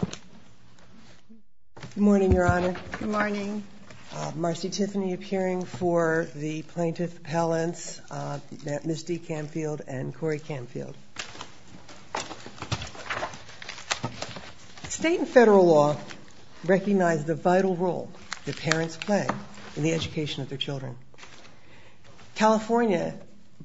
Good morning, Your Honor. Good morning. Marcy Tiffany appearing for the Plaintiff Appellants, Ms. D. Camfield, and Corey Camfield. State and federal law recognize the vital role that parents play in the education of their children. California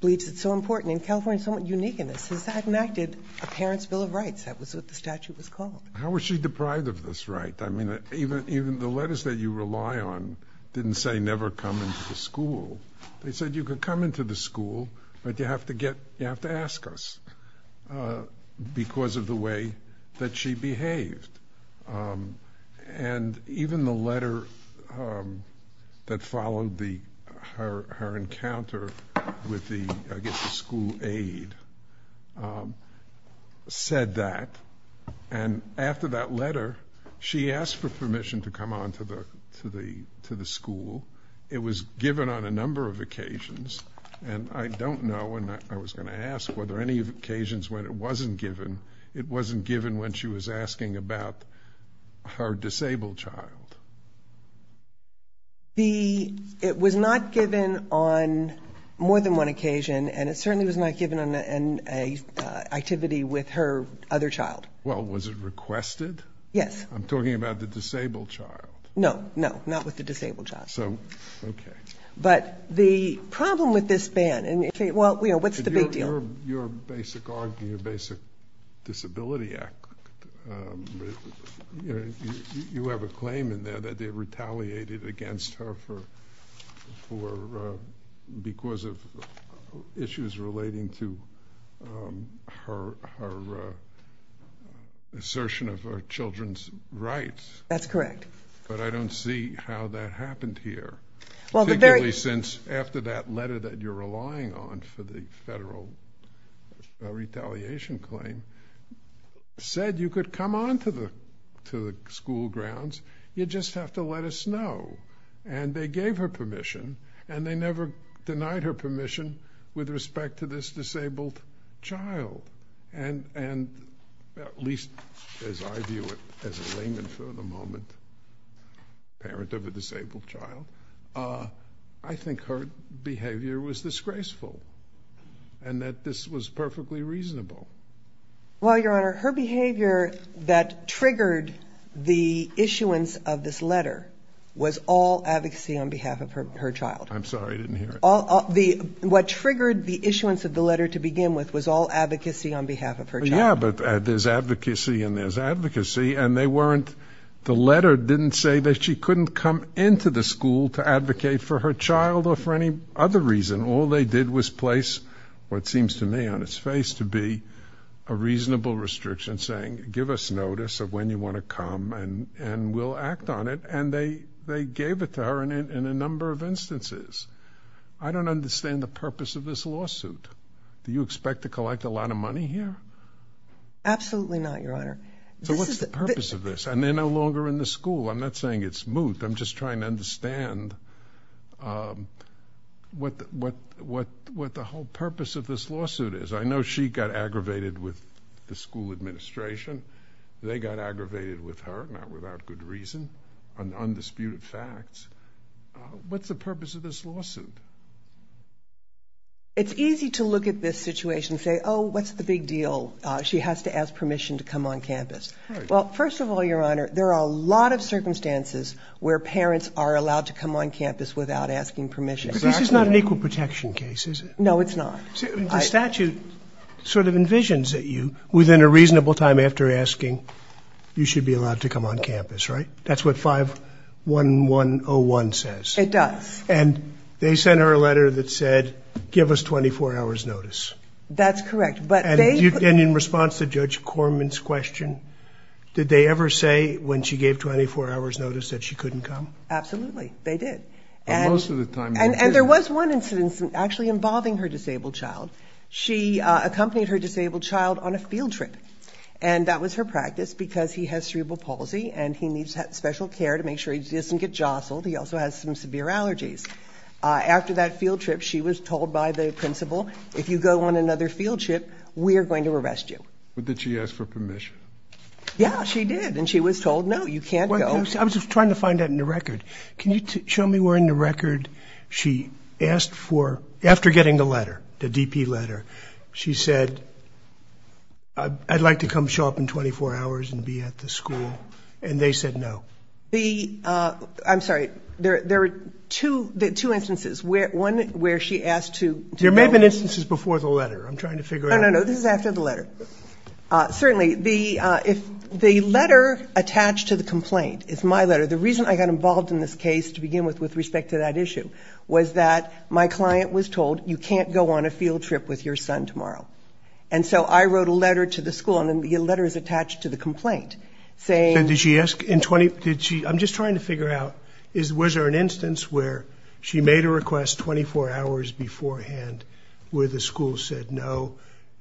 believes it's so important, and California is somewhat unique in this, has enacted a Parents' Bill of Rights. That was what the statute was called. How was she deprived of this right? I mean, even the letters that you rely on didn't say never come into the school. They said you could come into the school, but you have to get, you have to ask us, because of the way that she behaved. And after that letter, she asked for permission to come on to the school. It was given on a number of occasions, and I don't know, and I was going to ask, were there any occasions when it wasn't given? It wasn't given when she was asking about her disabled child. It was not given on more than one occasion, and it certainly was not given on an activity with her other child. Well, was it requested? Yes. I'm talking about the disabled child. No, no, not with the disabled child. So, okay. But the problem with this ban, and, well, you know, what's the big deal? Your basic argument, your basic disability act, you have a claim in there that they retaliated against her for, because of issues relating to her assertion of her children's rights. That's correct. But I don't see how that happened here. Particularly since after that letter that you're relying on for the federal retaliation claim said you could come on to the school grounds, you just have to let us know. And they gave her permission, and they never denied her permission with respect to this disabled child. And at least as I view it as a layman for the moment, parent of a disabled child, I think her behavior was disgraceful, and that this was perfectly reasonable. Well, Your Honor, her behavior that triggered the issuance of this letter was all advocacy on behalf of her child. I'm sorry, I didn't hear it. What triggered the issuance of the letter to begin with was all advocacy on behalf of her child? Yeah, but there's advocacy and there's advocacy, and they weren't, the letter didn't say that she couldn't come into the school to advocate for her child or for any other reason. All they did was place what seems to me on its face to be a reasonable restriction saying give us notice of when you want to come and we'll act on it, and they gave it to her in a number of instances. I don't understand the purpose of this lawsuit. Do you expect to collect a lot of money here? Absolutely not, Your Honor. So what's the purpose of this? And they're no longer in the school. I'm not saying it's moot. I'm just trying to understand what the whole purpose of this lawsuit is. I know she got aggravated with the school administration. They got aggravated with her, not without good reason, on undisputed facts. What's the purpose of this lawsuit? It's easy to look at this situation and say, oh, what's the big deal? She has to ask permission to come on campus. Well, first of all, Your Honor, there are a lot of circumstances where parents are allowed to come on campus without asking permission. But this is not an equal protection case, is it? No, it's not. The statute sort of envisions that you, within a reasonable time after asking, you should be allowed to come on campus, right? That's what 51101 says. It does. And they sent her a letter that said, give us 24 hours notice. That's correct. And in response to Judge Corman's question, did they ever say when she gave 24 hours notice that she couldn't come? Absolutely, they did. And there was one incident actually involving her disabled child. She accompanied her disabled child on a field trip. And that was her practice, because he has cerebral palsy and he needs special care to make sure he doesn't get jostled. He also has some severe allergies. After that field trip, she was told by the principal, if you go on another field trip, we're going to arrest you. But did she ask for permission? Yeah, she did. And she was told, no, you can't go. I was just trying to find that in the record. Can you show me where in the record she asked for, after getting the letter, the DP letter, she said, I'd like to come show up in 24 hours and be at the school. And they said no. I'm sorry. There were two instances. One where she asked to go. There may have been instances before the letter. I'm trying to figure out. No, no, no. This is after the letter. Certainly, the letter attached to the complaint is my letter. The reason I got involved in this case, to begin with, with respect to that client was told, you can't go on a field trip with your son tomorrow. And so I wrote a letter to the school, and the letter is attached to the complaint, saying. I'm just trying to figure out, was there an instance where she made a request 24 hours beforehand where the school said, no,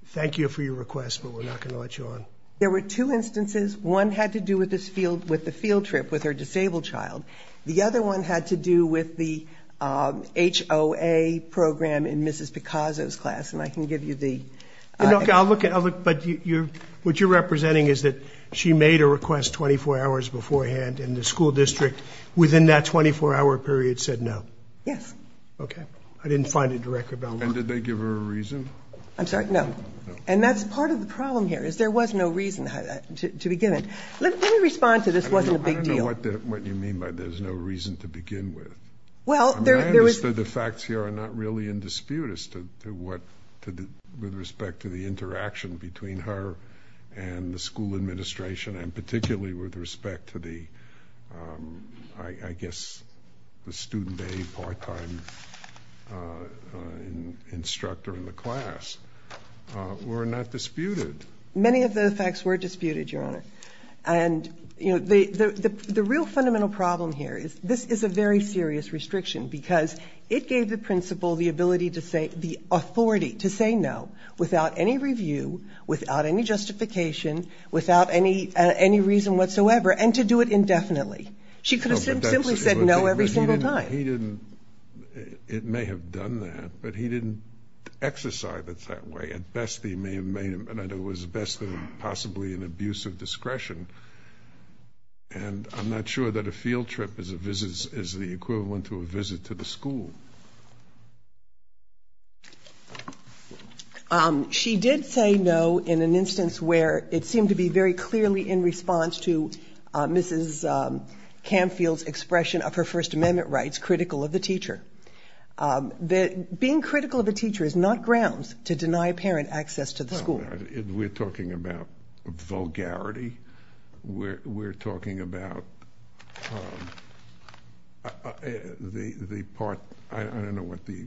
thank you for your request, but we're not going to let you on? There were two instances. One had to do with the field trip with her disabled child. The other one had to do with the HOA program in Mrs. Picazzo's class. And I can give you the. Okay. I'll look at it. But what you're representing is that she made a request 24 hours beforehand and the school district within that 24-hour period said, no. Yes. Okay. I didn't find it directly. And did they give her a reason? I'm sorry. No. And that's part of the problem here, is there was no reason to be given. Let me respond to this wasn't a big deal. I'm not sure what you mean by there's no reason to begin with. Well, there was. I mean, I understand the facts here are not really in dispute as to what, with respect to the interaction between her and the school administration, and particularly with respect to the, I guess, the student aid part-time instructor in the class, were not disputed. Many of the facts were disputed, Your Honor. And, you know, the real fundamental problem here is this is a very serious restriction because it gave the principal the ability to say, the authority to say no without any review, without any justification, without any reason whatsoever, and to do it indefinitely. She could have simply said no every single time. But he didn't. It may have done that, but he didn't exercise it that way. At best, he may have made it, at best, possibly an abuse of discretion. And I'm not sure that a field trip is the equivalent to a visit to the school. She did say no in an instance where it seemed to be very clearly in response to Mrs. Camfield's expression of her First Amendment rights, critical of the teacher. Being critical of grounds to deny a parent access to the school. We're talking about vulgarity. We're talking about the part, I don't know what the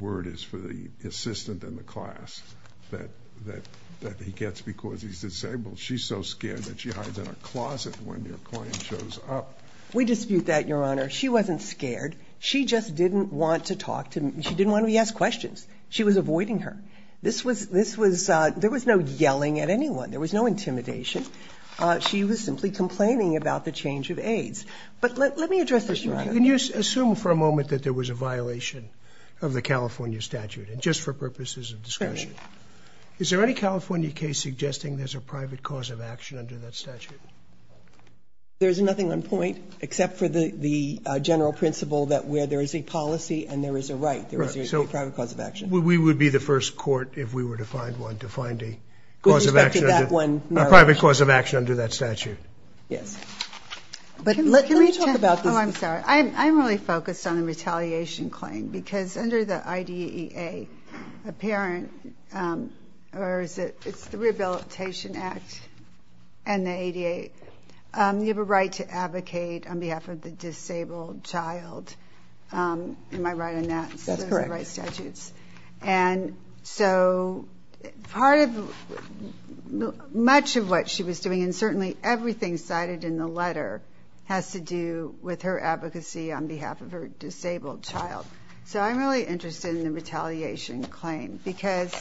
word is for the assistant in the class that he gets because he's disabled. She's so scared that she hides in a closet when your client shows up. We dispute that, Your Honor. She wasn't scared. She just didn't want to talk to, she didn't want to be asked questions. She was avoiding her. This was, this was, there was no yelling at anyone. There was no intimidation. She was simply complaining about the change of aides. But let me address this, Your Honor. Can you assume for a moment that there was a violation of the California statute, and just for purposes of discussion? Is there any California case suggesting there's a private cause of action under that statute? There's nothing on point except for the general principle that where there is a policy and there is a right. There is a private cause of action. We would be the first court, if we were to find one, to find a cause of action, a private cause of action under that statute. Yes. But let me talk about this, I'm sorry. I'm really focused on the retaliation claim because under the IDEA, a parent, or is it, it's the Rehabilitation Act and the ADA. You have a right to advocate on behalf of the disabled child. Am I right on that? That's correct. Those are the right statutes. And so, part of, much of what she was doing, and certainly everything cited in the letter, has to do with her advocacy on behalf of her disabled child. So I'm really interested in the retaliation claim because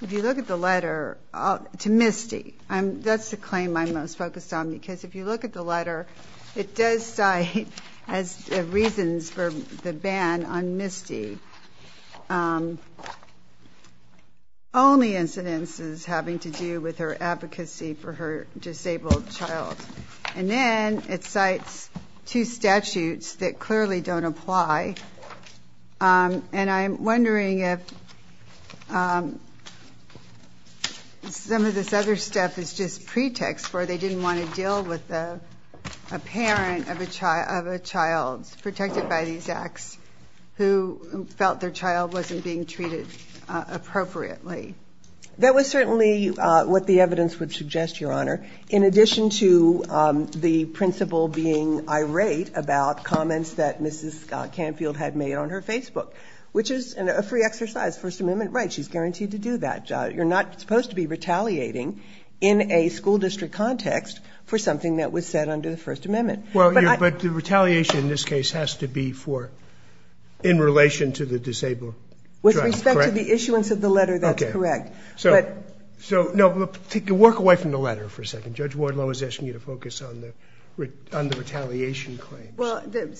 if you look at the letter to MISTI, that's the claim I'm most focused on because if you look at the letter, it does cite as reasons for the ban on MISTI, only incidences having to do with her advocacy for her disabled child. And then it cites two statutes that clearly don't apply. And I'm wondering if some of this other stuff is just pretext where they didn't want to have a parent of a child protected by these acts who felt their child wasn't being treated appropriately. That was certainly what the evidence would suggest, Your Honor, in addition to the principal being irate about comments that Mrs. Canfield had made on her Facebook, which is a free exercise. First Amendment rights, she's guaranteed to do that. You're not supposed to be retaliating in a school district context for something that was said under the First Amendment. But the retaliation in this case has to be in relation to the disabled child, correct? With respect to the issuance of the letter, that's correct. So work away from the letter for a second. Judge Wardlow is asking you to focus on the retaliation claims.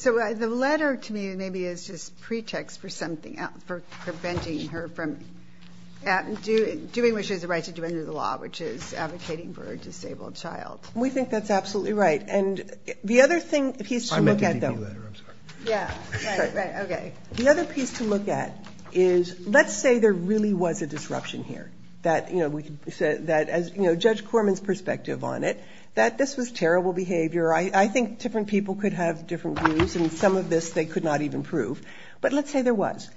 So the letter to me maybe is just pretext for something else, for preventing her from doing what she has a right to do under the law, which is advocating for a disabled child. We think that's absolutely right. And the other piece to look at is, let's say there really was a disruption here. Judge Corman's perspective on it, that this was terrible behavior. I think different people could have different views, and some of this they could not even prove. But let's say there was.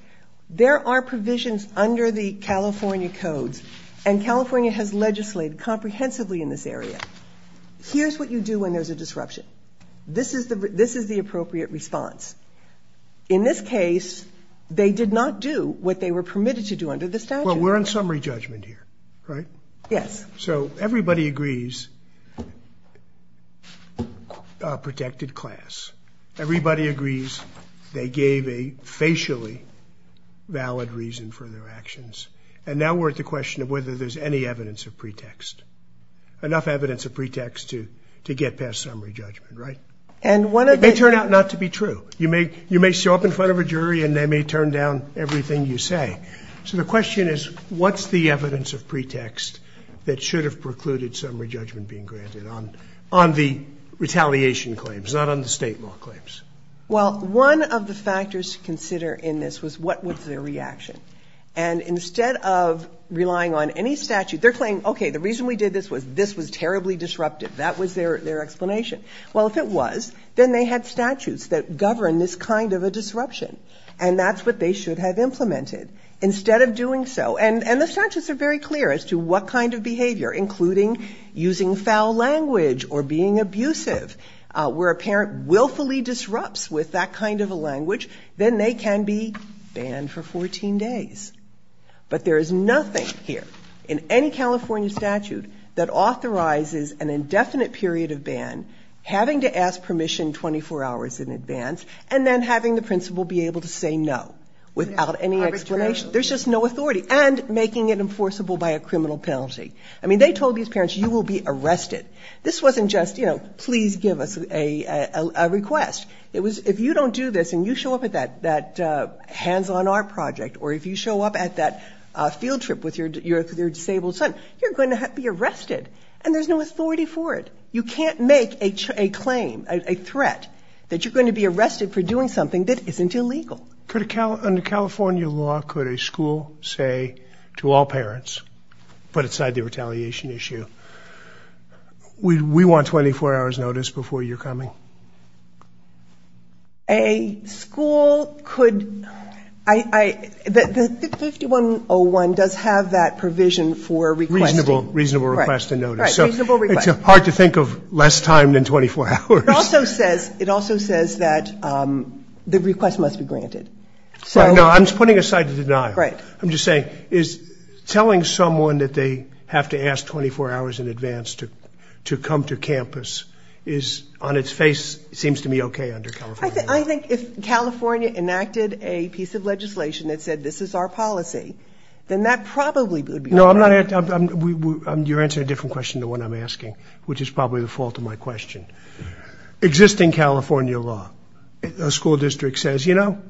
There are provisions under the California codes, and California has legislated comprehensively in this area. Here's what you do when there's a disruption. This is the appropriate response. In this case, they did not do what they were permitted to do under the statute. Well, we're on summary judgment here, right? Yes. So everybody agrees, protected class. Everybody agrees they gave a facially valid reason for their actions. And now we're at the question of whether there's any evidence of pretext. Enough evidence of pretext to get past summary judgment, right? And one of the- It may turn out not to be true. You may show up in front of a jury, and they may turn down everything you say. So the question is, what's the evidence of pretext that should have precluded summary judgment being granted on the retaliation claims, not on the state law claims? Well, one of the factors to consider in this was what was their reaction. And instead of relying on any statute, they're claiming, okay, the reason we did this was this was terribly disruptive. That was their explanation. Well, if it was, then they had statutes that have implemented. Instead of doing so, and the statutes are very clear as to what kind of behavior, including using foul language or being abusive, where a parent willfully disrupts with that kind of a language, then they can be banned for 14 days. But there is nothing here in any California statute that authorizes an indefinite period of ban, having to ask permission 24 hours in advance, and then having the principal be able to say no without any explanation. There's just no authority. And making it enforceable by a criminal penalty. I mean, they told these parents, you will be arrested. This wasn't just, you know, please give us a request. It was, if you don't do this, and you show up at that hands-on art project, or if you show up at that field trip with your disabled son, you're going to be arrested. And there's no authority for it. You can't make a claim, a threat that you're going to be arrested for doing something that isn't illegal. Could a, under California law, could a school say to all parents, put aside the retaliation issue, we want 24 hours notice before you're coming? A school could, I, the 5101 does have that provision for requesting. Reasonable, reasonable request and notice. Right, reasonable request. It's hard to think of less time than 24 hours. It also says, it also says that the request must be granted. Right, no, I'm putting aside the denial. Right. I'm just saying, is telling someone that they have to ask 24 hours in advance to come to campus is, on its face, seems to be okay under California law? I think if California enacted a piece of legislation that said this is our policy, then that probably would be okay. No, I'm not, you're answering a different question than the one I'm asking, which is existing California law, a school district says, you know,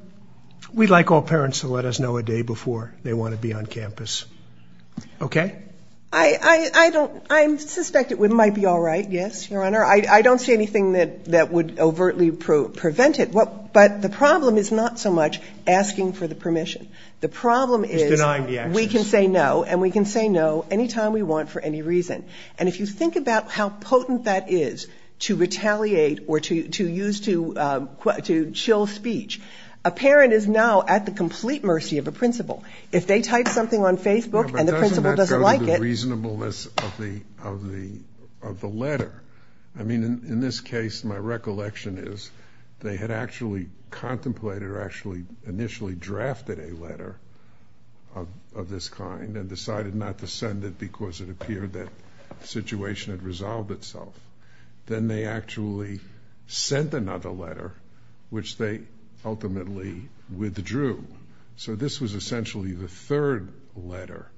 we'd like all parents to let us know a day before they want to be on campus, okay? I, I, I don't, I'm suspect it would, might be all right, yes, your honor. I, I don't see anything that, that would overtly prove, prevent it. What, but the problem is not so much asking for the permission. The problem is. Is denying the actions. We can say no, and we can say no any time we want for any reason. And if you think about how potent that is to retaliate or to, to use to, to chill speech, a parent is now at the complete mercy of a principal. If they type something on Facebook and the principal doesn't like it. But doesn't that go to the reasonableness of the, of the, of the letter? I mean, in this case, my recollection is they had actually contemplated or actually initially drafted a letter of, of this kind and decided not to send it because it appeared that situation had resolved itself. Then they actually sent another letter, which they ultimately withdrew. So this was essentially the third letter.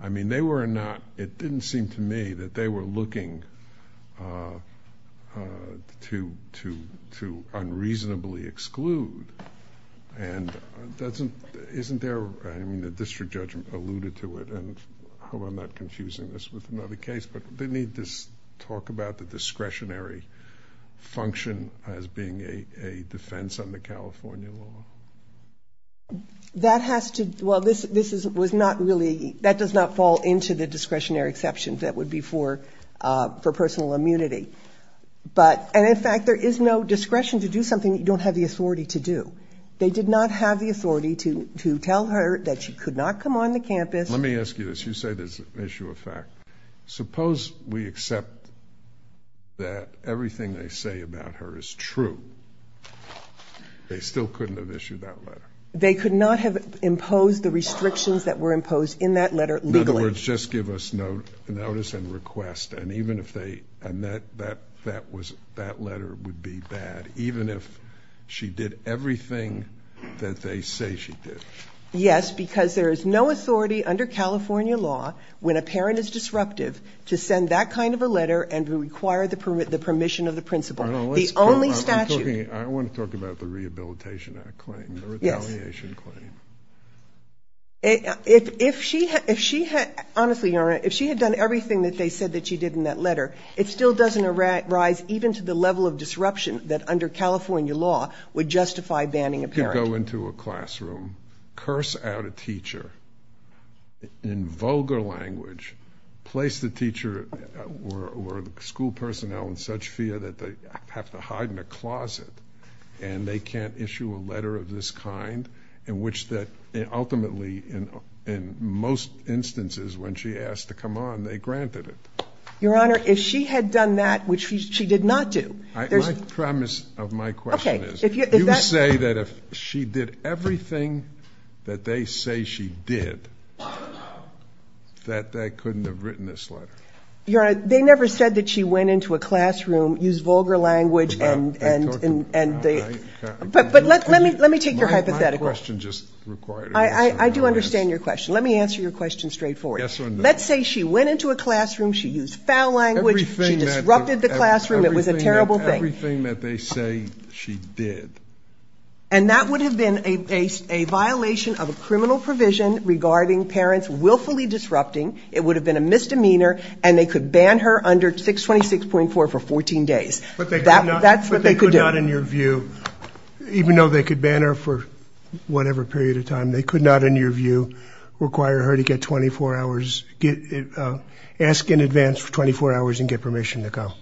I mean, they were not, it didn't seem to me that they were looking to, to, to unreasonably exclude. And doesn't, isn't there, I mean, the district judge alluded to it and I hope I'm not confusing this with another case, but they need to talk about the discretionary function as being a defense under California law. That has to, well, this, this is, was not really, that does not fall into the discretionary exceptions that would be for, for personal immunity, but, and in fact, there is no discretion to do something that you don't have the authority to do. They did not have the authority to, to tell her that she could not come on the campus. Let me ask you this. You say there's an issue of fact. Suppose we accept that everything they say about her is true. They still couldn't have issued that letter. They could not have imposed the restrictions that were imposed in that letter legally. In other words, just give us notice and request. And even if they, and that, that, that was, that letter would be bad, even if she did everything that they say she did. Yes, because there is no authority under California law when a parent is disruptive to send that kind of a letter and to require the permit, the permission of the principal. The only statute. I want to talk about the Rehabilitation Act claim, the retaliation claim. If, if she, if she had, honestly, you know, if she had done everything that they said that she did in that letter, it still doesn't arise even to the level of disruption that under California law would justify banning a parent. You could go into a classroom, curse out a teacher in vulgar language, place the teacher or the school personnel in such fear that they have to hide in a closet and they can't issue a letter of this kind in which that ultimately in, in most instances, when she asked to come on, they granted it. Your Honor, if she had done that, which she did not do, there's, my premise of my question is, you say that if she did everything that they say she did, that they couldn't have written this letter. Your Honor, they never said that she went into a classroom, used vulgar language and, and, and they, but, but let, let me, let me take your hypothetical. I, I, I do understand your question. Let me answer your question straightforward. Let's say she went into a classroom, she used foul language, she disrupted the classroom, it was a terrible thing. And that would have been a, a, a violation of a criminal provision regarding parents willfully disrupting, it would have been a misdemeanor and they could ban her under 626.4 for 14 days. That, that's what they could do. But they could not, in your view, even though they could ban her for whatever period of time, they could not, in your view, require her to get 24 hours, get, ask in advance for 24 hours and get permission to come?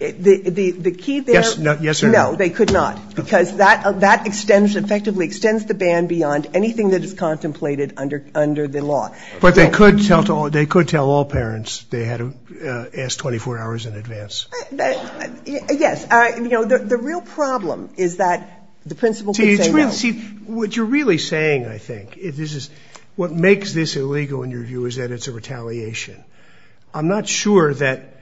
The key there. Yes or no? No, they could not. Because that, that extends, effectively extends the ban beyond anything that is contemplated under, under the law. But they could tell to all, they could tell all parents they had to ask 24 hours in advance? Yes. I, you know, the, the real problem is that the principal could say no. See, it's really, see, what you're really saying, I think, is this is, what makes this illegal in your view is that it's a retaliation. I'm not sure that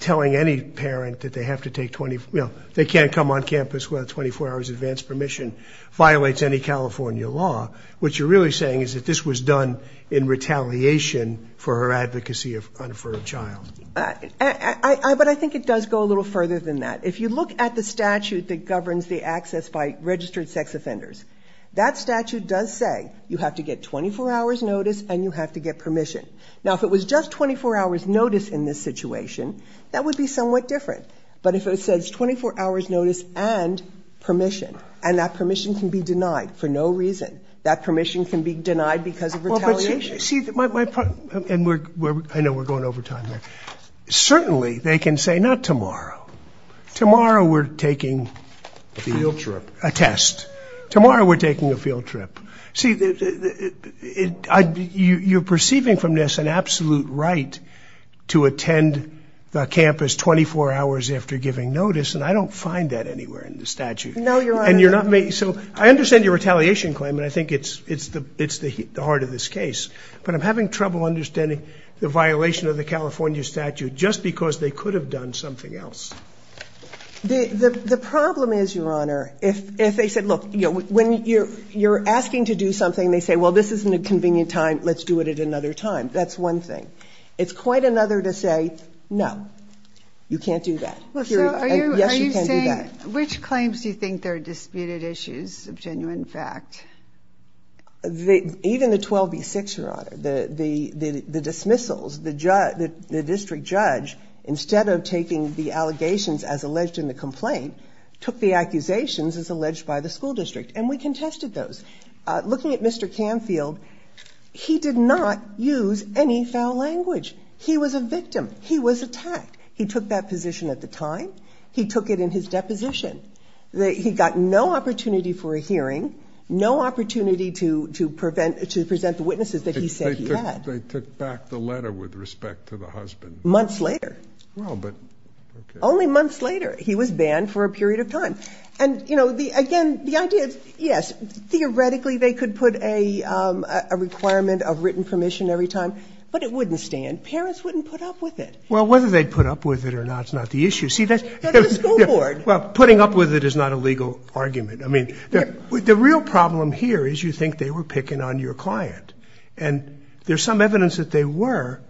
telling any parent that they have to take 24, you know, they can't come on campus without 24 hours advance permission violates any California law. What you're really saying is that this was done in retaliation for her advocacy of, for her child. I, I, but I think it does go a little further than that. If you look at the statute that governs the access by registered sex offenders, that statute does say you have to get 24 hours notice and you have to get permission. Now, if it was just 24 hours notice in this situation, that would be somewhat different. But if it says 24 hours notice and permission, and that permission can be denied for no reason, that permission can be denied because of retaliation. See, my, my, and we're, I know we're going over time there. Certainly they can say not tomorrow. Tomorrow we're taking a test. Tomorrow we're taking a field trip. See, you're perceiving from this an absolute right to attend the campus 24 hours after giving notice. And I don't find that anywhere in the statute. And you're not making, so I understand your retaliation claim. And I think it's, it's the, it's the heart of this case, but I'm having trouble understanding the violation of the California statute just because they could have done something else. The problem is, Your Honor, if, if they said, look, you know, when you're, you're asking to do something, they say, well, this isn't a convenient time, let's do it at another time. That's one thing. It's quite another to say, no, you can't do that. Yes, you can do that. Which claims do you think they're disputed issues of genuine fact? Even the 12B6, Your Honor, the dismissals, the district judge, instead of taking the allegations as alleged in the complaint, took the accusations as alleged by the school district. And we contested those. Looking at Mr. Canfield, he did not use any foul language. He was a victim. He was attacked. He took that position at the time. He took it in his deposition. He got no opportunity for a hearing, no opportunity to, to prevent, to present the witnesses that he said he had. They took back the letter with respect to the husband. Months later. Well, but. Okay. Only months later, he was banned for a period of time. And you know, the, again, the idea is, yes, theoretically they could put a, a requirement of written permission every time, but it wouldn't stand. Parents wouldn't put up with it. Well, whether they'd put up with it or not, it's not the issue. See, that's. The school board. Well, putting up with it is not a legal argument. I mean, the real problem here is you think they were picking on your client and there's some evidence that they were,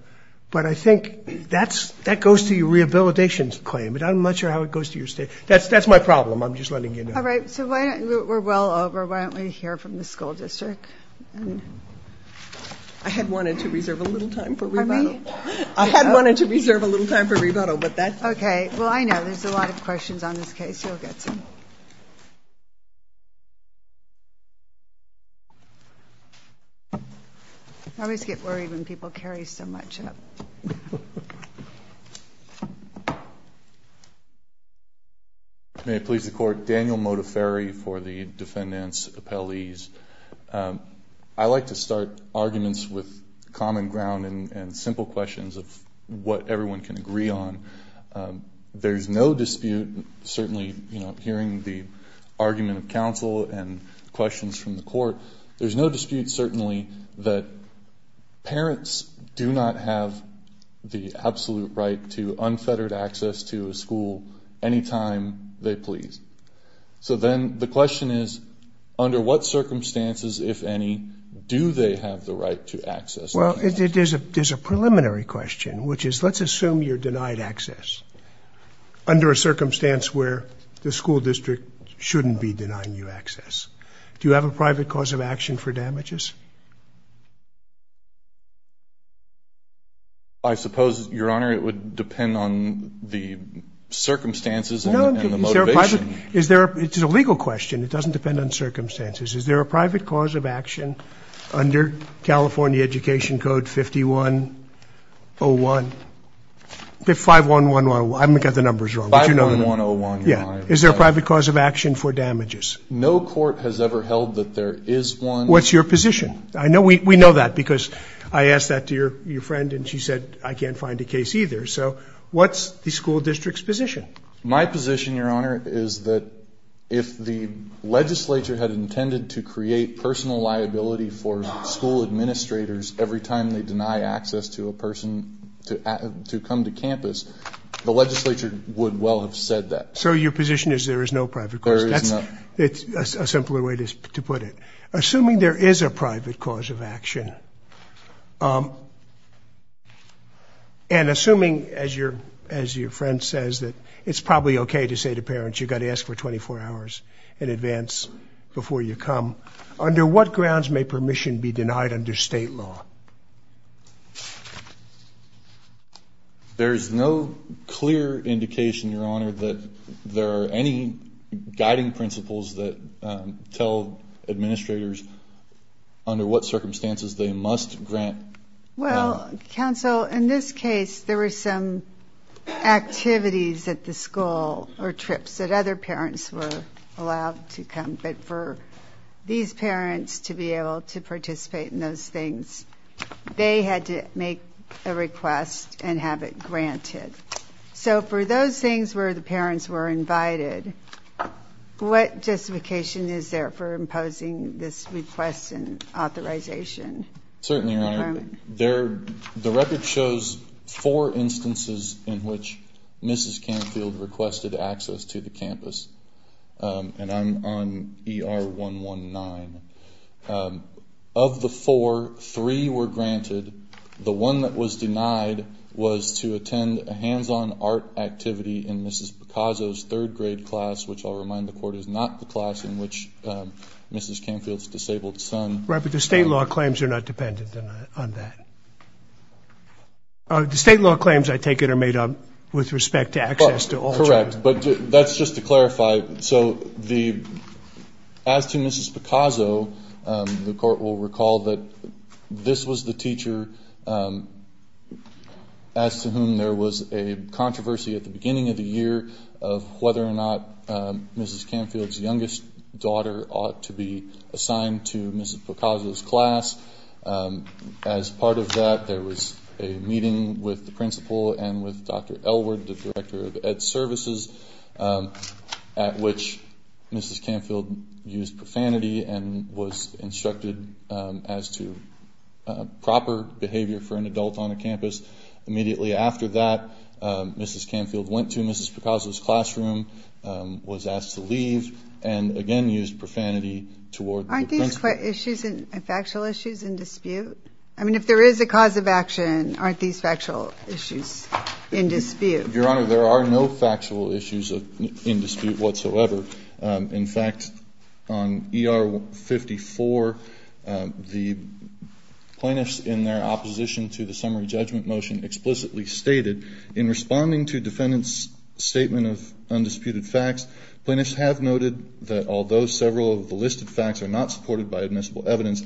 but I think that's, that goes to your rehabilitation claim. But I'm not sure how it goes to your state. That's, that's my problem. I'm just letting you know. All right. So why don't, we're well over. Why don't we hear from the school district? I had wanted to reserve a little time for rebuttal. I had wanted to reserve a little time for rebuttal, but that's. Okay. Well, I know there's a lot of questions on this case. You'll get some. I always get worried when people carry so much up. May it please the court, Daniel Modaferri for the defendant's appellees. I like to start arguments with common ground and simple questions of what everyone can There's no dispute, certainly, you know, hearing the argument of counsel and questions from the court. There's no dispute, certainly, that parents do not have the absolute right to unfettered access to a school anytime they please. So then the question is, under what circumstances, if any, do they have the right to access? Well, there's a preliminary question, which is, let's assume you're denied access under a circumstance where the school district shouldn't be denying you access. Do you have a private cause of action for damages? I suppose, Your Honor, it would depend on the circumstances and the motivation. Is there, it's a legal question. It doesn't depend on circumstances. Is there a private cause of action under California Education Code 5101? I've got the numbers wrong. 5111, Your Honor. Yeah. Is there a private cause of action for damages? No court has ever held that there is one. What's your position? I know, we know that because I asked that to your friend and she said, I can't find a case either. So what's the school district's position? My position, Your Honor, is that if the legislature had intended to create personal liability for school administrators every time they deny access to a person to come to campus, the legislature would well have said that. So your position is there is no private cause of action? There is not. That's a simpler way to put it. Assuming there is a private cause of action, and assuming, as your friend says, that it's probably okay to say to parents, you got to ask for 24 hours in advance before you come, under what grounds may permission be denied under state law? There's no clear indication, Your Honor, that there are any guiding principles that tell administrators under what circumstances they must grant. Well, counsel, in this case, there were some activities at the school or trips that other parents were allowed to come, but for these parents to be able to participate in those things, they had to make a request and have it granted. So for those things where the parents were invited, what justification is there for imposing this request and authorization? Certainly, Your Honor. The record shows four instances in which Mrs. Canfield requested access to the campus. And I'm on ER 119. Of the four, three were granted. The one that was denied was to attend a hands-on art activity in Mrs. Picasso's third grade class, which I'll remind the Court is not the class in which Mrs. Canfield's disabled son attended. Right, but the state law claims are not dependent on that. The state law claims, I take it, are made up with respect to access to all children. Correct. But that's just to clarify. So as to Mrs. Picasso, the Court will recall that this was the teacher as to whom there was a controversy at the beginning of the year of whether or not Mrs. Canfield's youngest daughter ought to be assigned to Mrs. Picasso's class. As part of that, there was a meeting with the principal and with Dr. Elwood, the director of Ed Services, at which Mrs. Canfield used profanity and was instructed as to proper behavior for an adult on a campus. Immediately after that, Mrs. Canfield went to Mrs. Picasso's classroom, was asked to leave, and again used profanity toward the principal. Aren't these factual issues in dispute? I mean, if there is a cause of action, aren't these factual issues in dispute? Your Honor, there are no factual issues in dispute whatsoever. In fact, on ER 54, the plaintiffs in their opposition to the summary judgment motion explicitly stated, in responding to defendants' statement of undisputed facts, plaintiffs have noted that although several of the listed facts are not supported by admissible evidence,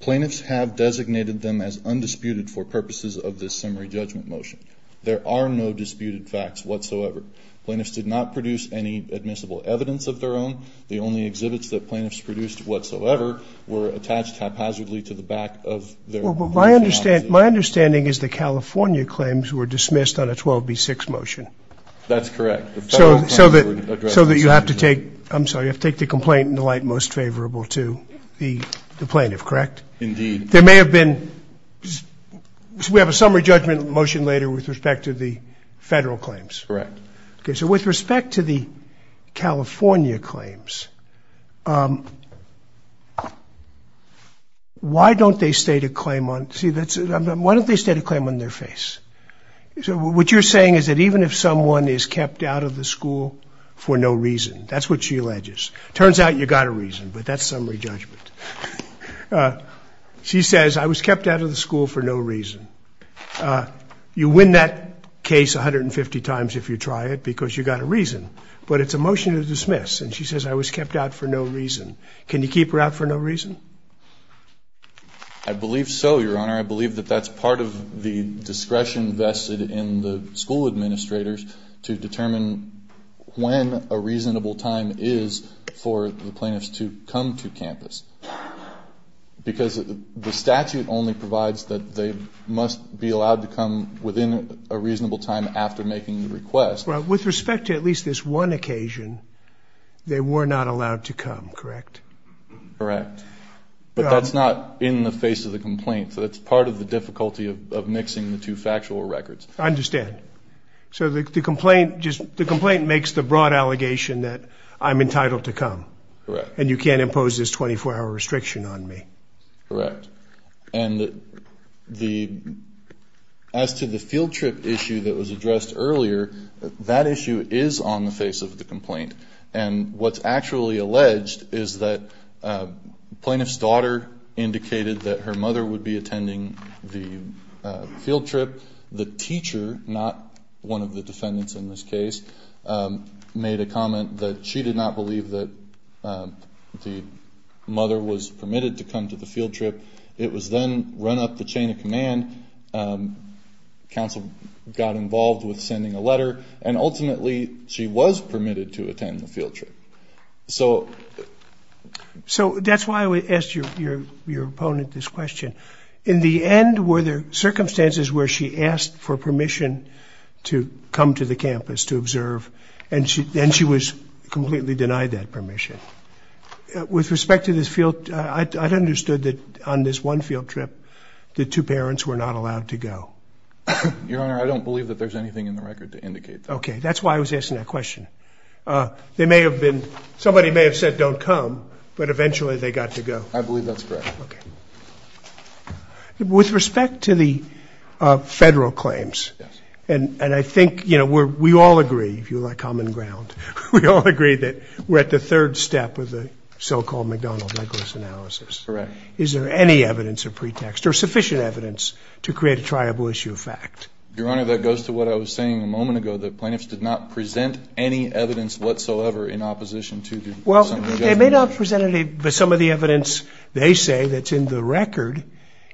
plaintiffs have designated them as undisputed for purposes of this summary judgment motion. There are no disputed facts whatsoever. Plaintiffs did not produce any admissible evidence of their own. The only exhibits that plaintiffs produced whatsoever were attached haphazardly to the back of their opposition. My understanding is the California claims were dismissed on a 12B6 motion. That's correct. So that you have to take the complaint in the light most favorable to the plaintiff, correct? Indeed. There may have been, we have a summary judgment motion later with respect to the federal claims. Correct. Okay, so with respect to the California claims, why don't they state a claim on, see that's, why don't they state a claim on their face? What you're saying is that even if someone is kept out of the school for no reason, that's what she alleges. Turns out you got a reason, but that's summary judgment. She says, I was kept out of the school for no reason. You win that case 150 times if you try it because you got a reason, but it's a motion to dismiss. And she says, I was kept out for no reason. Can you keep her out for no reason? I believe so, your honor. I believe that that's part of the discretion vested in the school administrators to determine when a reasonable time is for the plaintiffs to come to campus. Because the statute only provides that they must be allowed to come within a reasonable time after making the request. With respect to at least this one occasion, they were not allowed to come, correct? Correct. But that's not in the face of the complaint, so that's part of the difficulty of mixing the two factual records. I understand. So the complaint makes the broad allegation that I'm entitled to come. Correct. And you can't impose this 24-hour restriction on me. Correct. And as to the field trip issue that was addressed earlier, that issue is on the face of the complaint. And what's actually alleged is that the plaintiff's daughter indicated that her mother would be defendants in this case, made a comment that she did not believe that the mother was permitted to come to the field trip. It was then run up the chain of command, counsel got involved with sending a letter, and ultimately she was permitted to attend the field trip. So that's why we asked your opponent this question. In the end, were there circumstances where she asked for permission to come to the campus to observe, and she was completely denied that permission? With respect to this field trip, I understood that on this one field trip, the two parents were not allowed to go. Your Honor, I don't believe that there's anything in the record to indicate that. Okay. That's why I was asking that question. Somebody may have said don't come, but eventually they got to go. I believe that's correct. Okay. With respect to the federal claims, and I think, you know, we all agree, if you like common ground, we all agree that we're at the third step of the so-called McDonnell-Douglas analysis. Correct. Is there any evidence or pretext, or sufficient evidence, to create a triable issue of fact? Your Honor, that goes to what I was saying a moment ago, the plaintiffs did not present any evidence whatsoever in opposition to some of the evidence. They may not have presented it, but some of the evidence they say that's in the record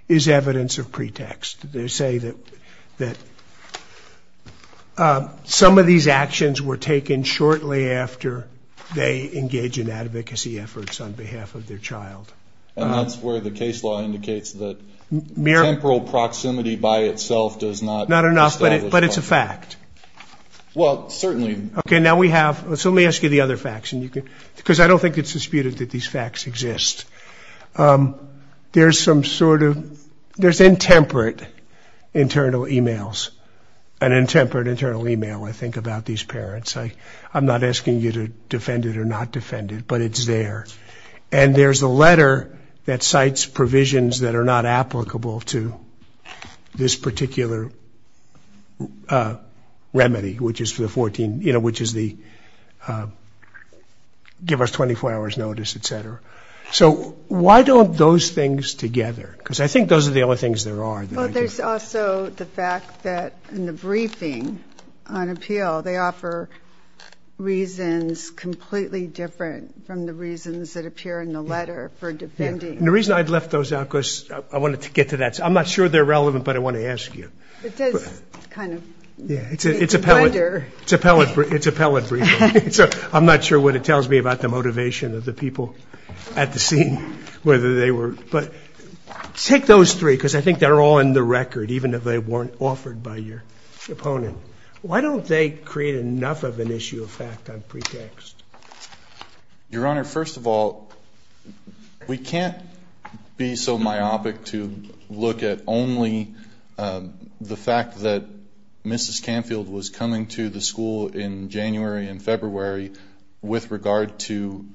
is evidence of pretext. They say that some of these actions were taken shortly after they engage in advocacy efforts on behalf of their child. And that's where the case law indicates that temporal proximity by itself does not establish a fact. Not enough, but it's a fact. Well, certainly. Okay. And now we have, so let me ask you the other facts, because I don't think it's disputed that these facts exist. There's some sort of, there's intemperate internal emails. An intemperate internal email, I think, about these parents. I'm not asking you to defend it or not defend it, but it's there. And there's a letter that cites provisions that are not applicable to this particular remedy, which is for the 14, you know, which is the give us 24 hours notice, et cetera. So why don't those things together, because I think those are the only things there are. Well, there's also the fact that in the briefing on appeal, they offer reasons completely different from the reasons that appear in the letter for defending. And the reason I'd left those out, because I wanted to get to that. I'm not sure they're relevant, but I want to ask you. It does kind of blunder. Yeah, it's a pellet briefing, so I'm not sure what it tells me about the motivation of the people at the scene, whether they were, but take those three, because I think they're all in the record, even if they weren't offered by your opponent. Why don't they create enough of an issue of fact on pretext? Your Honor, first of all, we can't be so myopic to look at only the fact that Mrs. Canfield was coming to the school in January and February with regard to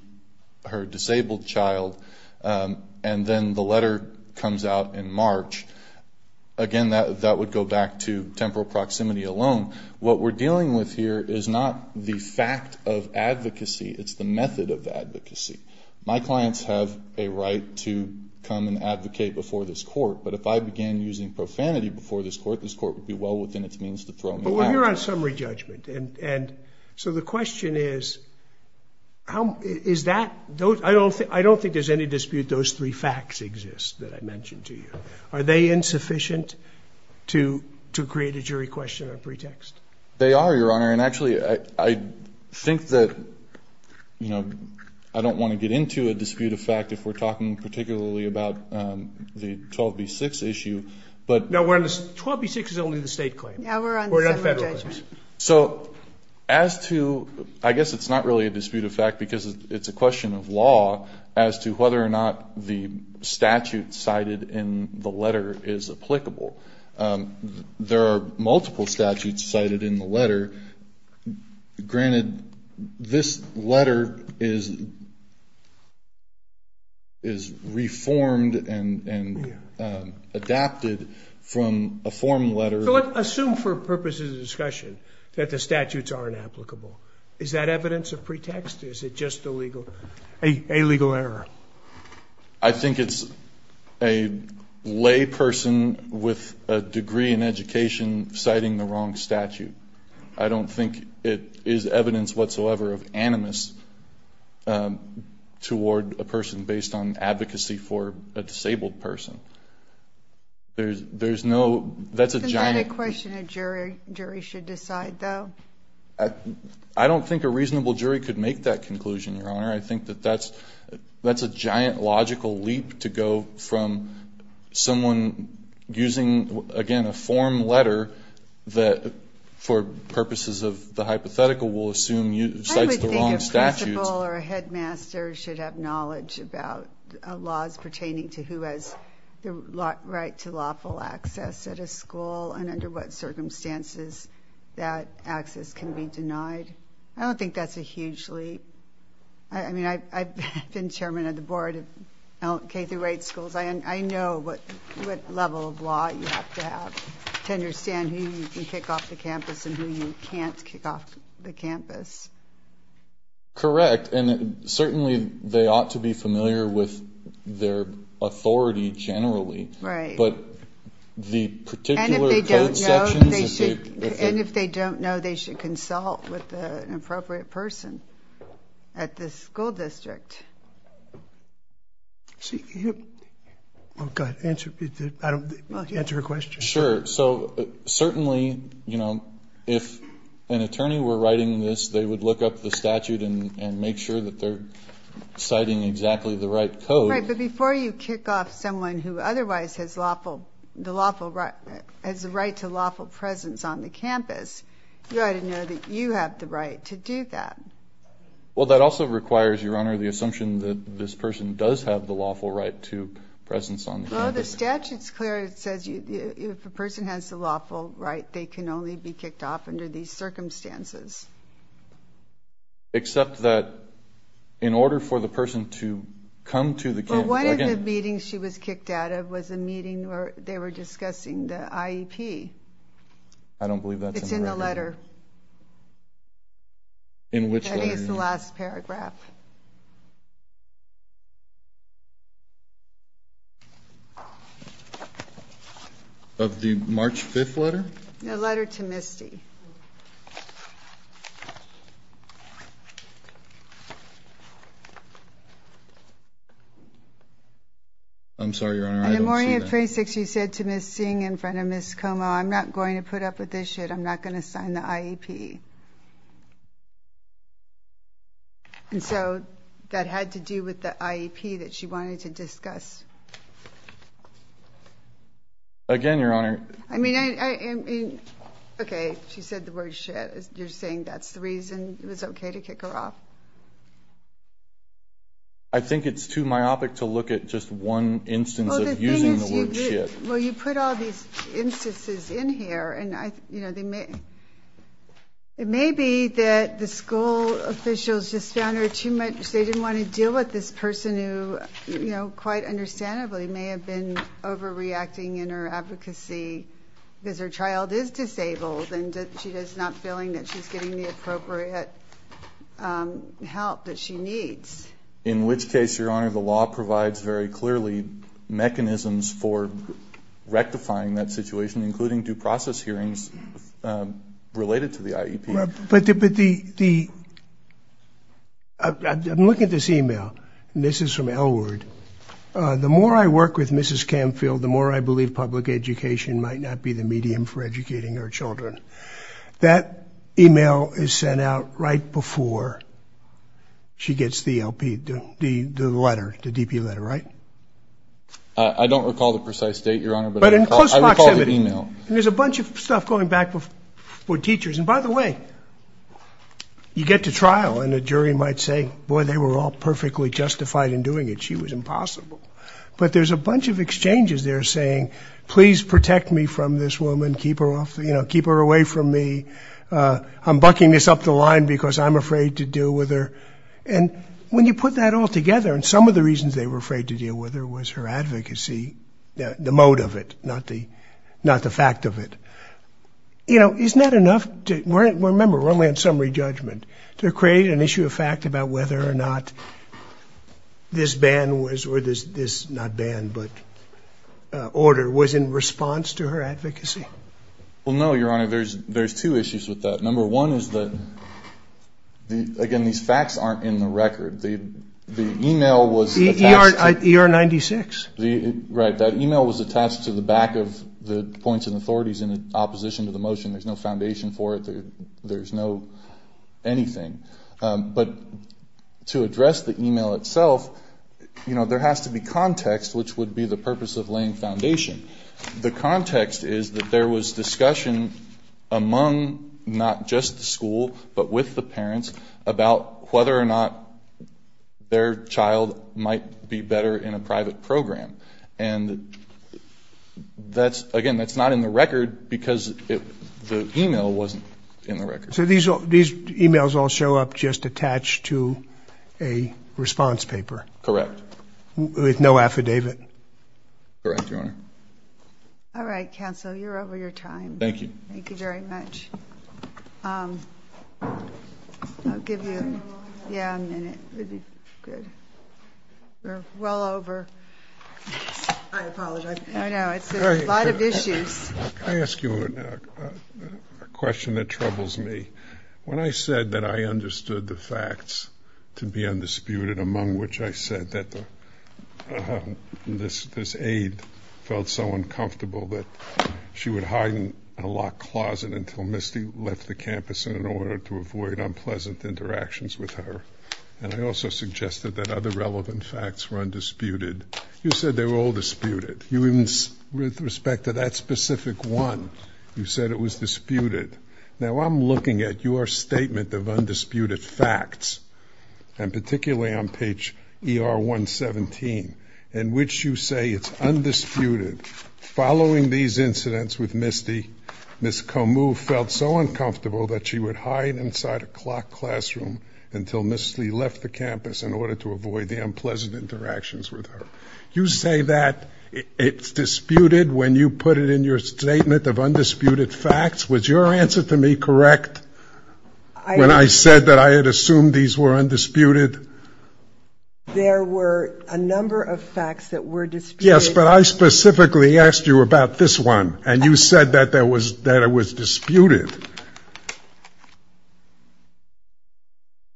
her disabled child, and then the letter comes out in March. Again, that would go back to temporal proximity alone. What we're dealing with here is not the fact of advocacy. It's the method of advocacy. My clients have a right to come and advocate before this court, but if I began using profanity before this court, this court would be well within its means to throw me out. But we're here on summary judgment, and so the question is, I don't think there's any dispute those three facts exist that I mentioned to you. Are they insufficient to create a jury question on pretext? They are, Your Honor, and actually, I think that I don't want to get into a dispute of fact if we're talking particularly about the 12B6 issue, but- No, 12B6 is only the state claim. Yeah, we're on the summary judgment. So as to, I guess it's not really a dispute of fact because it's a question of law as to whether or not the statute cited in the letter is applicable. There are multiple statutes cited in the letter. Granted, this letter is reformed and adapted from a form letter- So let's assume for purposes of discussion that the statutes aren't applicable. Is that evidence of pretext? Is it just a legal error? I think it's a lay person with a degree in education citing the wrong statute. I don't think it is evidence whatsoever of animus toward a person based on advocacy for a disabled person. There's no- I don't think a reasonable jury could make that conclusion, Your Honor. I think that that's a giant logical leap to go from someone using, again, a form letter that for purposes of the hypothetical will assume cites the wrong statutes- I would think a principal or a headmaster should have knowledge about laws pertaining to who has the right to lawful access at a school and under what circumstances that access can be denied. I don't think that's a huge leap. I mean, I've been chairman of the board of K-8 schools. I know what level of law you have to have to understand who you can kick off the campus and who you can't kick off the campus. Correct. And certainly, they ought to be familiar with their authority generally, but the particular code sections- Right. And if they don't know, they should consult with an appropriate person at the school district. Well, go ahead, answer her question. Sure. So certainly, you know, if an attorney were writing this, they would look up the statute and make sure that they're citing exactly the right code. Right, but before you kick off someone who otherwise has the right to lawful presence on the campus, you ought to know that you have the right to do that. Well, that also requires, Your Honor, the assumption that this person does have the lawful right to presence on the campus. Well, the statute's clear. It says if a person has the lawful right, they can only be kicked off under these circumstances. Except that, in order for the person to come to the campus- Well, one of the meetings she was kicked out of was a meeting where they were discussing the IEP. I don't believe that's in the record. It's in the letter. In which letter? That is the last paragraph. Of the March 5th letter? The letter to Misty. I'm sorry, Your Honor, I don't see that- In the morning of May 6th, she said to Ms. Singh in front of Ms. Como, I'm not going to put up with this shit. I'm not going to sign the IEP. And so, that had to do with the IEP that she wanted to discuss. Again, Your Honor- I mean, I- I- I- Okay. She said the word shit. You're saying that's the reason it was okay to kick her off? I think it's too myopic to look at just one instance of using the word shit. Well, you put all these instances in here, and I- you know, they may- it may be that the school officials just found her too much- they didn't want to deal with this person who, you know, quite understandably may have been overreacting in her advocacy because her child is disabled, and she is not feeling that she's getting the appropriate help that she needs. In which case, Your Honor, the law provides very clearly mechanisms for rectifying that situation, including due process hearings related to the IEP. But the- the- I'm looking at this email, and this is from Elwood. The more I work with Mrs. Camfield, the more I believe public education might not be the medium for educating her children. That email is sent out right before she gets the LP- the- the letter, the DP letter, right? I don't recall the precise date, Your Honor, but I recall- But in close proximity. I recall the email. And there's a bunch of stuff going back for teachers, and by the way, you get to trial and a jury might say, boy, they were all perfectly justified in doing it. She was impossible. But there's a bunch of exchanges there saying, please protect me from this woman. Keep her off- you know, keep her away from me. I'm bucking this up the line because I'm afraid to deal with her. And when you put that all together, and some of the reasons they were afraid to deal with her was her advocacy, the mode of it, not the- not the fact of it. You know, isn't that enough to- we're- remember, we're only on summary judgment. To create an issue of fact about whether or not this ban was- or this, not ban, but order was in response to her advocacy? Well, no, Your Honor. There's two issues with that. Number one is that, again, these facts aren't in the record. The email was attached to- ER- ER 96. The- right. That email was attached to the back of the points and authorities in opposition to the motion. There's no foundation for it. There's no anything. But to address the email itself, you know, there has to be context, which would be the purpose of laying foundation. The context is that there was discussion among not just the school, but with the parents about whether or not their child might be better in a private program. And that's- again, that's not in the record because it- the email wasn't in the record. So these all- these emails all show up just attached to a response paper? Correct. With no affidavit? Correct, Your Honor. All right, counsel. You're over your time. Thank you. Thank you very much. I'll give you- Can we go on? Yeah, a minute. We'll be good. We're well over. I apologize. I know. It's a lot of issues. Can I ask you a question that troubles me? When I said that I understood the facts to be undisputed, among which I said that this aide felt so uncomfortable that she would hide in a locked closet until Misty left the campus in order to avoid unpleasant interactions with her, and I also suggested that other relevant facts were undisputed, you said they were all disputed. You even- with respect to that specific one, you said it was disputed. Now I'm looking at your statement of undisputed facts, and particularly on page ER 117, in which you say it's undisputed, following these incidents with Misty, Ms. Komu felt so uncomfortable that she would hide inside a clock classroom until Misty left the campus in order to avoid the unpleasant interactions with her. You say that it's disputed when you put it in your statement of undisputed facts. Was your answer to me correct when I said that I had assumed these were undisputed? There were a number of facts that were disputed. Yes, but I specifically asked you about this one, and you said that it was disputed.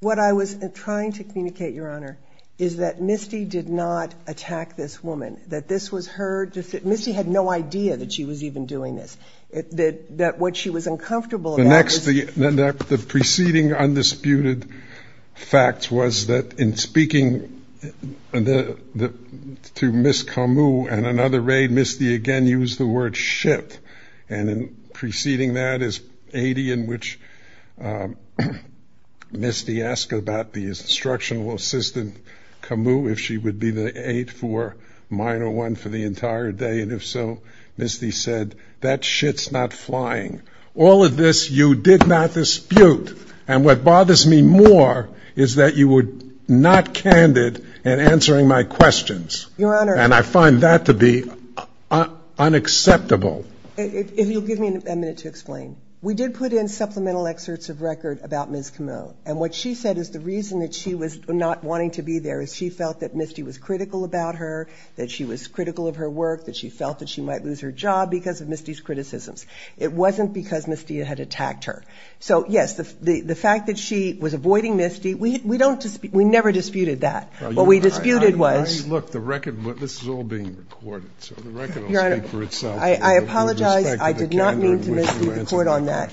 What I was trying to communicate, Your Honor, is that Misty did not attack this woman. That this was her- Misty had no idea that she was even doing this. That what she was uncomfortable about was- The next- the preceding undisputed fact was that in speaking to Ms. Komu and another raid, Misty again used the word ship, and in preceding that is 80 in which Misty asked about the instructional assistant, Komu, if she would be the 8 for minor 1 for the entire day, and if so, Misty said, that shit's not flying. All of this you did not dispute, and what bothers me more is that you were not candid in answering my questions. And I find that to be unacceptable. If you'll give me a minute to explain. We did put in supplemental excerpts of record about Ms. Komu, and what she said is the reason that she was not wanting to be there is she felt that Misty was critical about her, that she was critical of her work, that she felt that she might lose her job because of Misty's criticisms. It wasn't because Misty had attacked her. So yes, the fact that she was avoiding Misty, we never disputed that. What we disputed was- Look, the record- this is all being recorded, so the record will speak for itself- Your Honor, I apologize. I did not mean to mislead the court on that.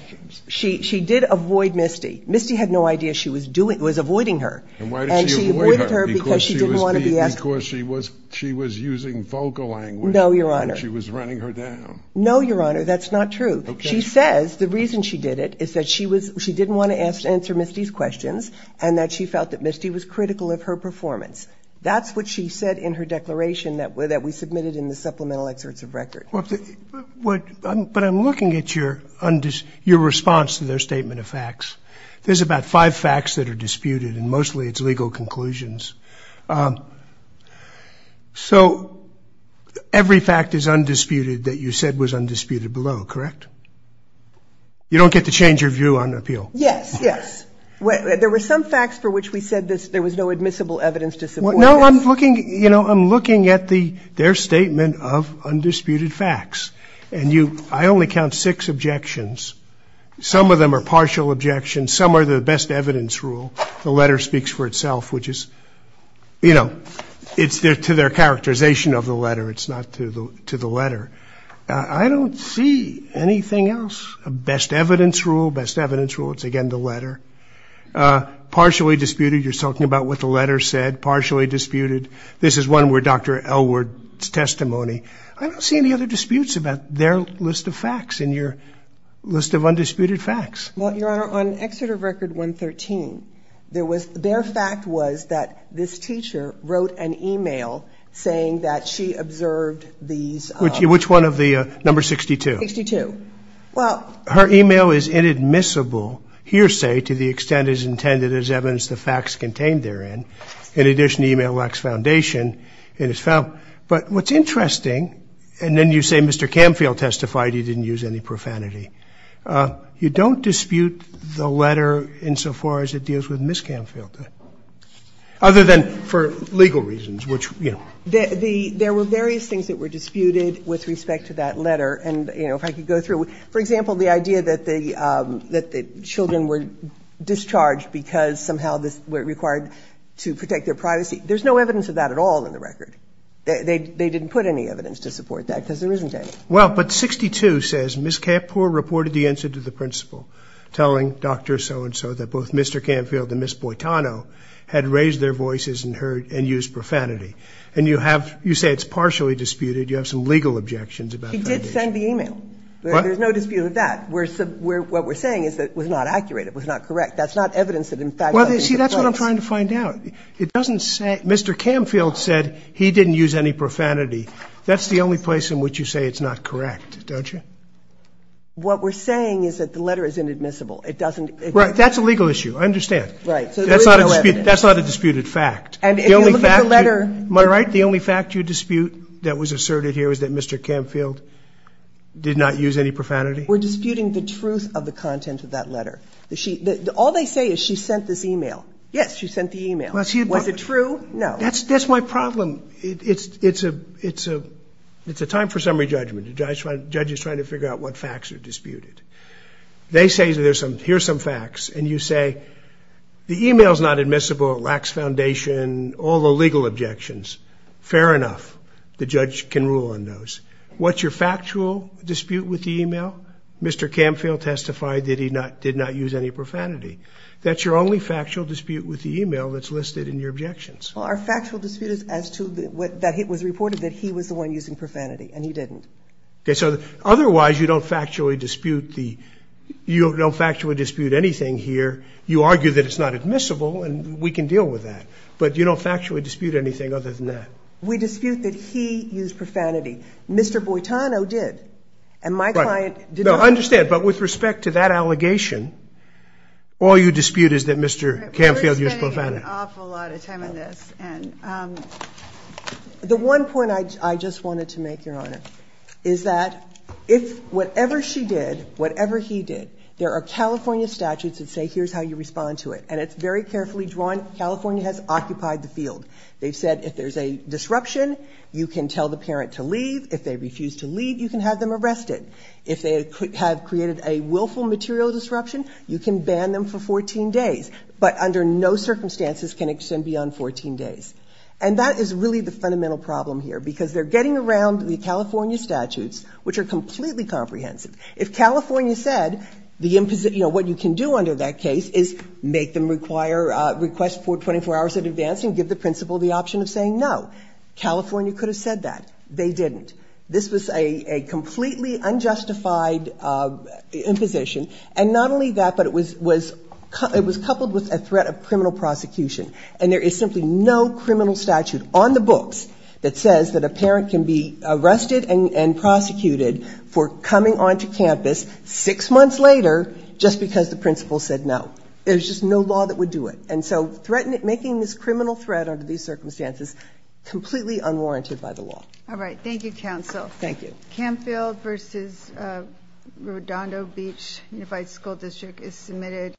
She did avoid Misty. Misty had no idea she was avoiding her, and she avoided her because she didn't want to be asked- And why did she avoid her? Because she was using vocal language- No, Your Honor. She was running her down. No, Your Honor. That's not true. She says the reason she did it is that she didn't want to answer Misty's questions and that she felt that Misty was critical of her performance. That's what she said in her declaration that we submitted in the supplemental excerpts of record. But I'm looking at your response to their statement of facts. There's about five facts that are disputed, and mostly it's legal conclusions. So every fact is undisputed that you said was undisputed below, correct? You don't get to change your view on appeal. Yes, yes. There were some facts for which we said there was no admissible evidence to support this. No, I'm looking at their statement of undisputed facts. And I only count six objections. Some of them are partial objections. Some are the best evidence rule. The letter speaks for itself, which is, you know, it's to their characterization of the letter. It's not to the letter. I don't see anything else. Best evidence rule. Best evidence rule. It's, again, the letter. Partially disputed. You're talking about what the letter said. Partially disputed. This is one where Dr. Elwood's testimony. I don't see any other disputes about their list of facts in your list of undisputed facts. Well, Your Honor, on excerpt of record 113, their fact was that this teacher wrote an email saying that she observed these. Which one of the, number 62? 62. Well. Her email is inadmissible hearsay to the extent it is intended as evidence the facts contained therein. In addition, the email lacks foundation. But what's interesting, and then you say Mr. Canfield testified he didn't use any profanity. You don't dispute the letter insofar as it deals with Ms. Canfield, other than for legal reasons, which, you know. There were various things that were disputed with respect to that letter. And, you know, if I could go through. For example, the idea that the children were discharged because somehow they were required to protect their privacy. There's no evidence of that at all in the record. They didn't put any evidence to support that because there isn't any. Well, but 62 says Ms. Kapoor reported the answer to the principal, telling Dr. So-and-so that both Mr. Canfield and Ms. Boitano had raised their voices and used profanity. And you say it's partially disputed. You have some legal objections about the foundation. He did send the email. What? There's no dispute of that. What we're saying is that it was not accurate. It was not correct. That's not evidence that in fact it was in some place. Well, see, that's what I'm trying to find out. It doesn't say Mr. Canfield said he didn't use any profanity. That's the only place in which you say it's not correct, don't you? What we're saying is that the letter is inadmissible. It doesn't exist. Right. That's a legal issue. I understand. Right. So there is no evidence. That's not a disputed fact. And if you look at the letter. Am I right, the only fact you dispute that was asserted here was that Mr. Canfield did not use any profanity? We're disputing the truth of the content of that letter. All they say is she sent this email. Yes, she sent the email. Was it true? No. That's my problem. It's a time for summary judgment. The judge is trying to figure out what facts are disputed. They say here's some facts. And you say the email's not admissible. It lacks foundation. And all the legal objections. Fair enough. The judge can rule on those. What's your factual dispute with the email? Mr. Canfield testified that he did not use any profanity. That's your only factual dispute with the email that's listed in your objections. Our factual dispute is as to what was reported that he was the one using profanity. And he didn't. Okay. So otherwise you don't factually dispute the you don't factually dispute anything here. You argue that it's not admissible. And we can deal with that. But you don't factually dispute anything other than that. We dispute that he used profanity. Mr. Boitano did. And my client did not. No, I understand. But with respect to that allegation, all you dispute is that Mr. Canfield used profanity. We're spending an awful lot of time on this. And the one point I just wanted to make, Your Honor, is that if whatever she did, whatever he did, there are California statutes that say here's how you respond to it. And it's very carefully drawn. California has occupied the field. They've said if there's a disruption, you can tell the parent to leave. If they refuse to leave, you can have them arrested. If they have created a willful material disruption, you can ban them for 14 days. But under no circumstances can it extend beyond 14 days. And that is really the fundamental problem here. Because they're getting around the California statutes, which are completely comprehensive. If California said, you know, what you can do under that case is make them require request for 24 hours in advance and give the principal the option of saying no. California could have said that. They didn't. This was a completely unjustified imposition. And not only that, but it was coupled with a threat of criminal prosecution. And there is simply no criminal statute on the books that says that a parent can be arrested and prosecuted for coming onto campus six months later just because the principal said no. There's just no law that would do it. And so making this criminal threat under these circumstances completely unwarranted by the law. All right. Thank you, Counsel. Thank you. Camfield v. Rodondo Beach Unified School District is submitted.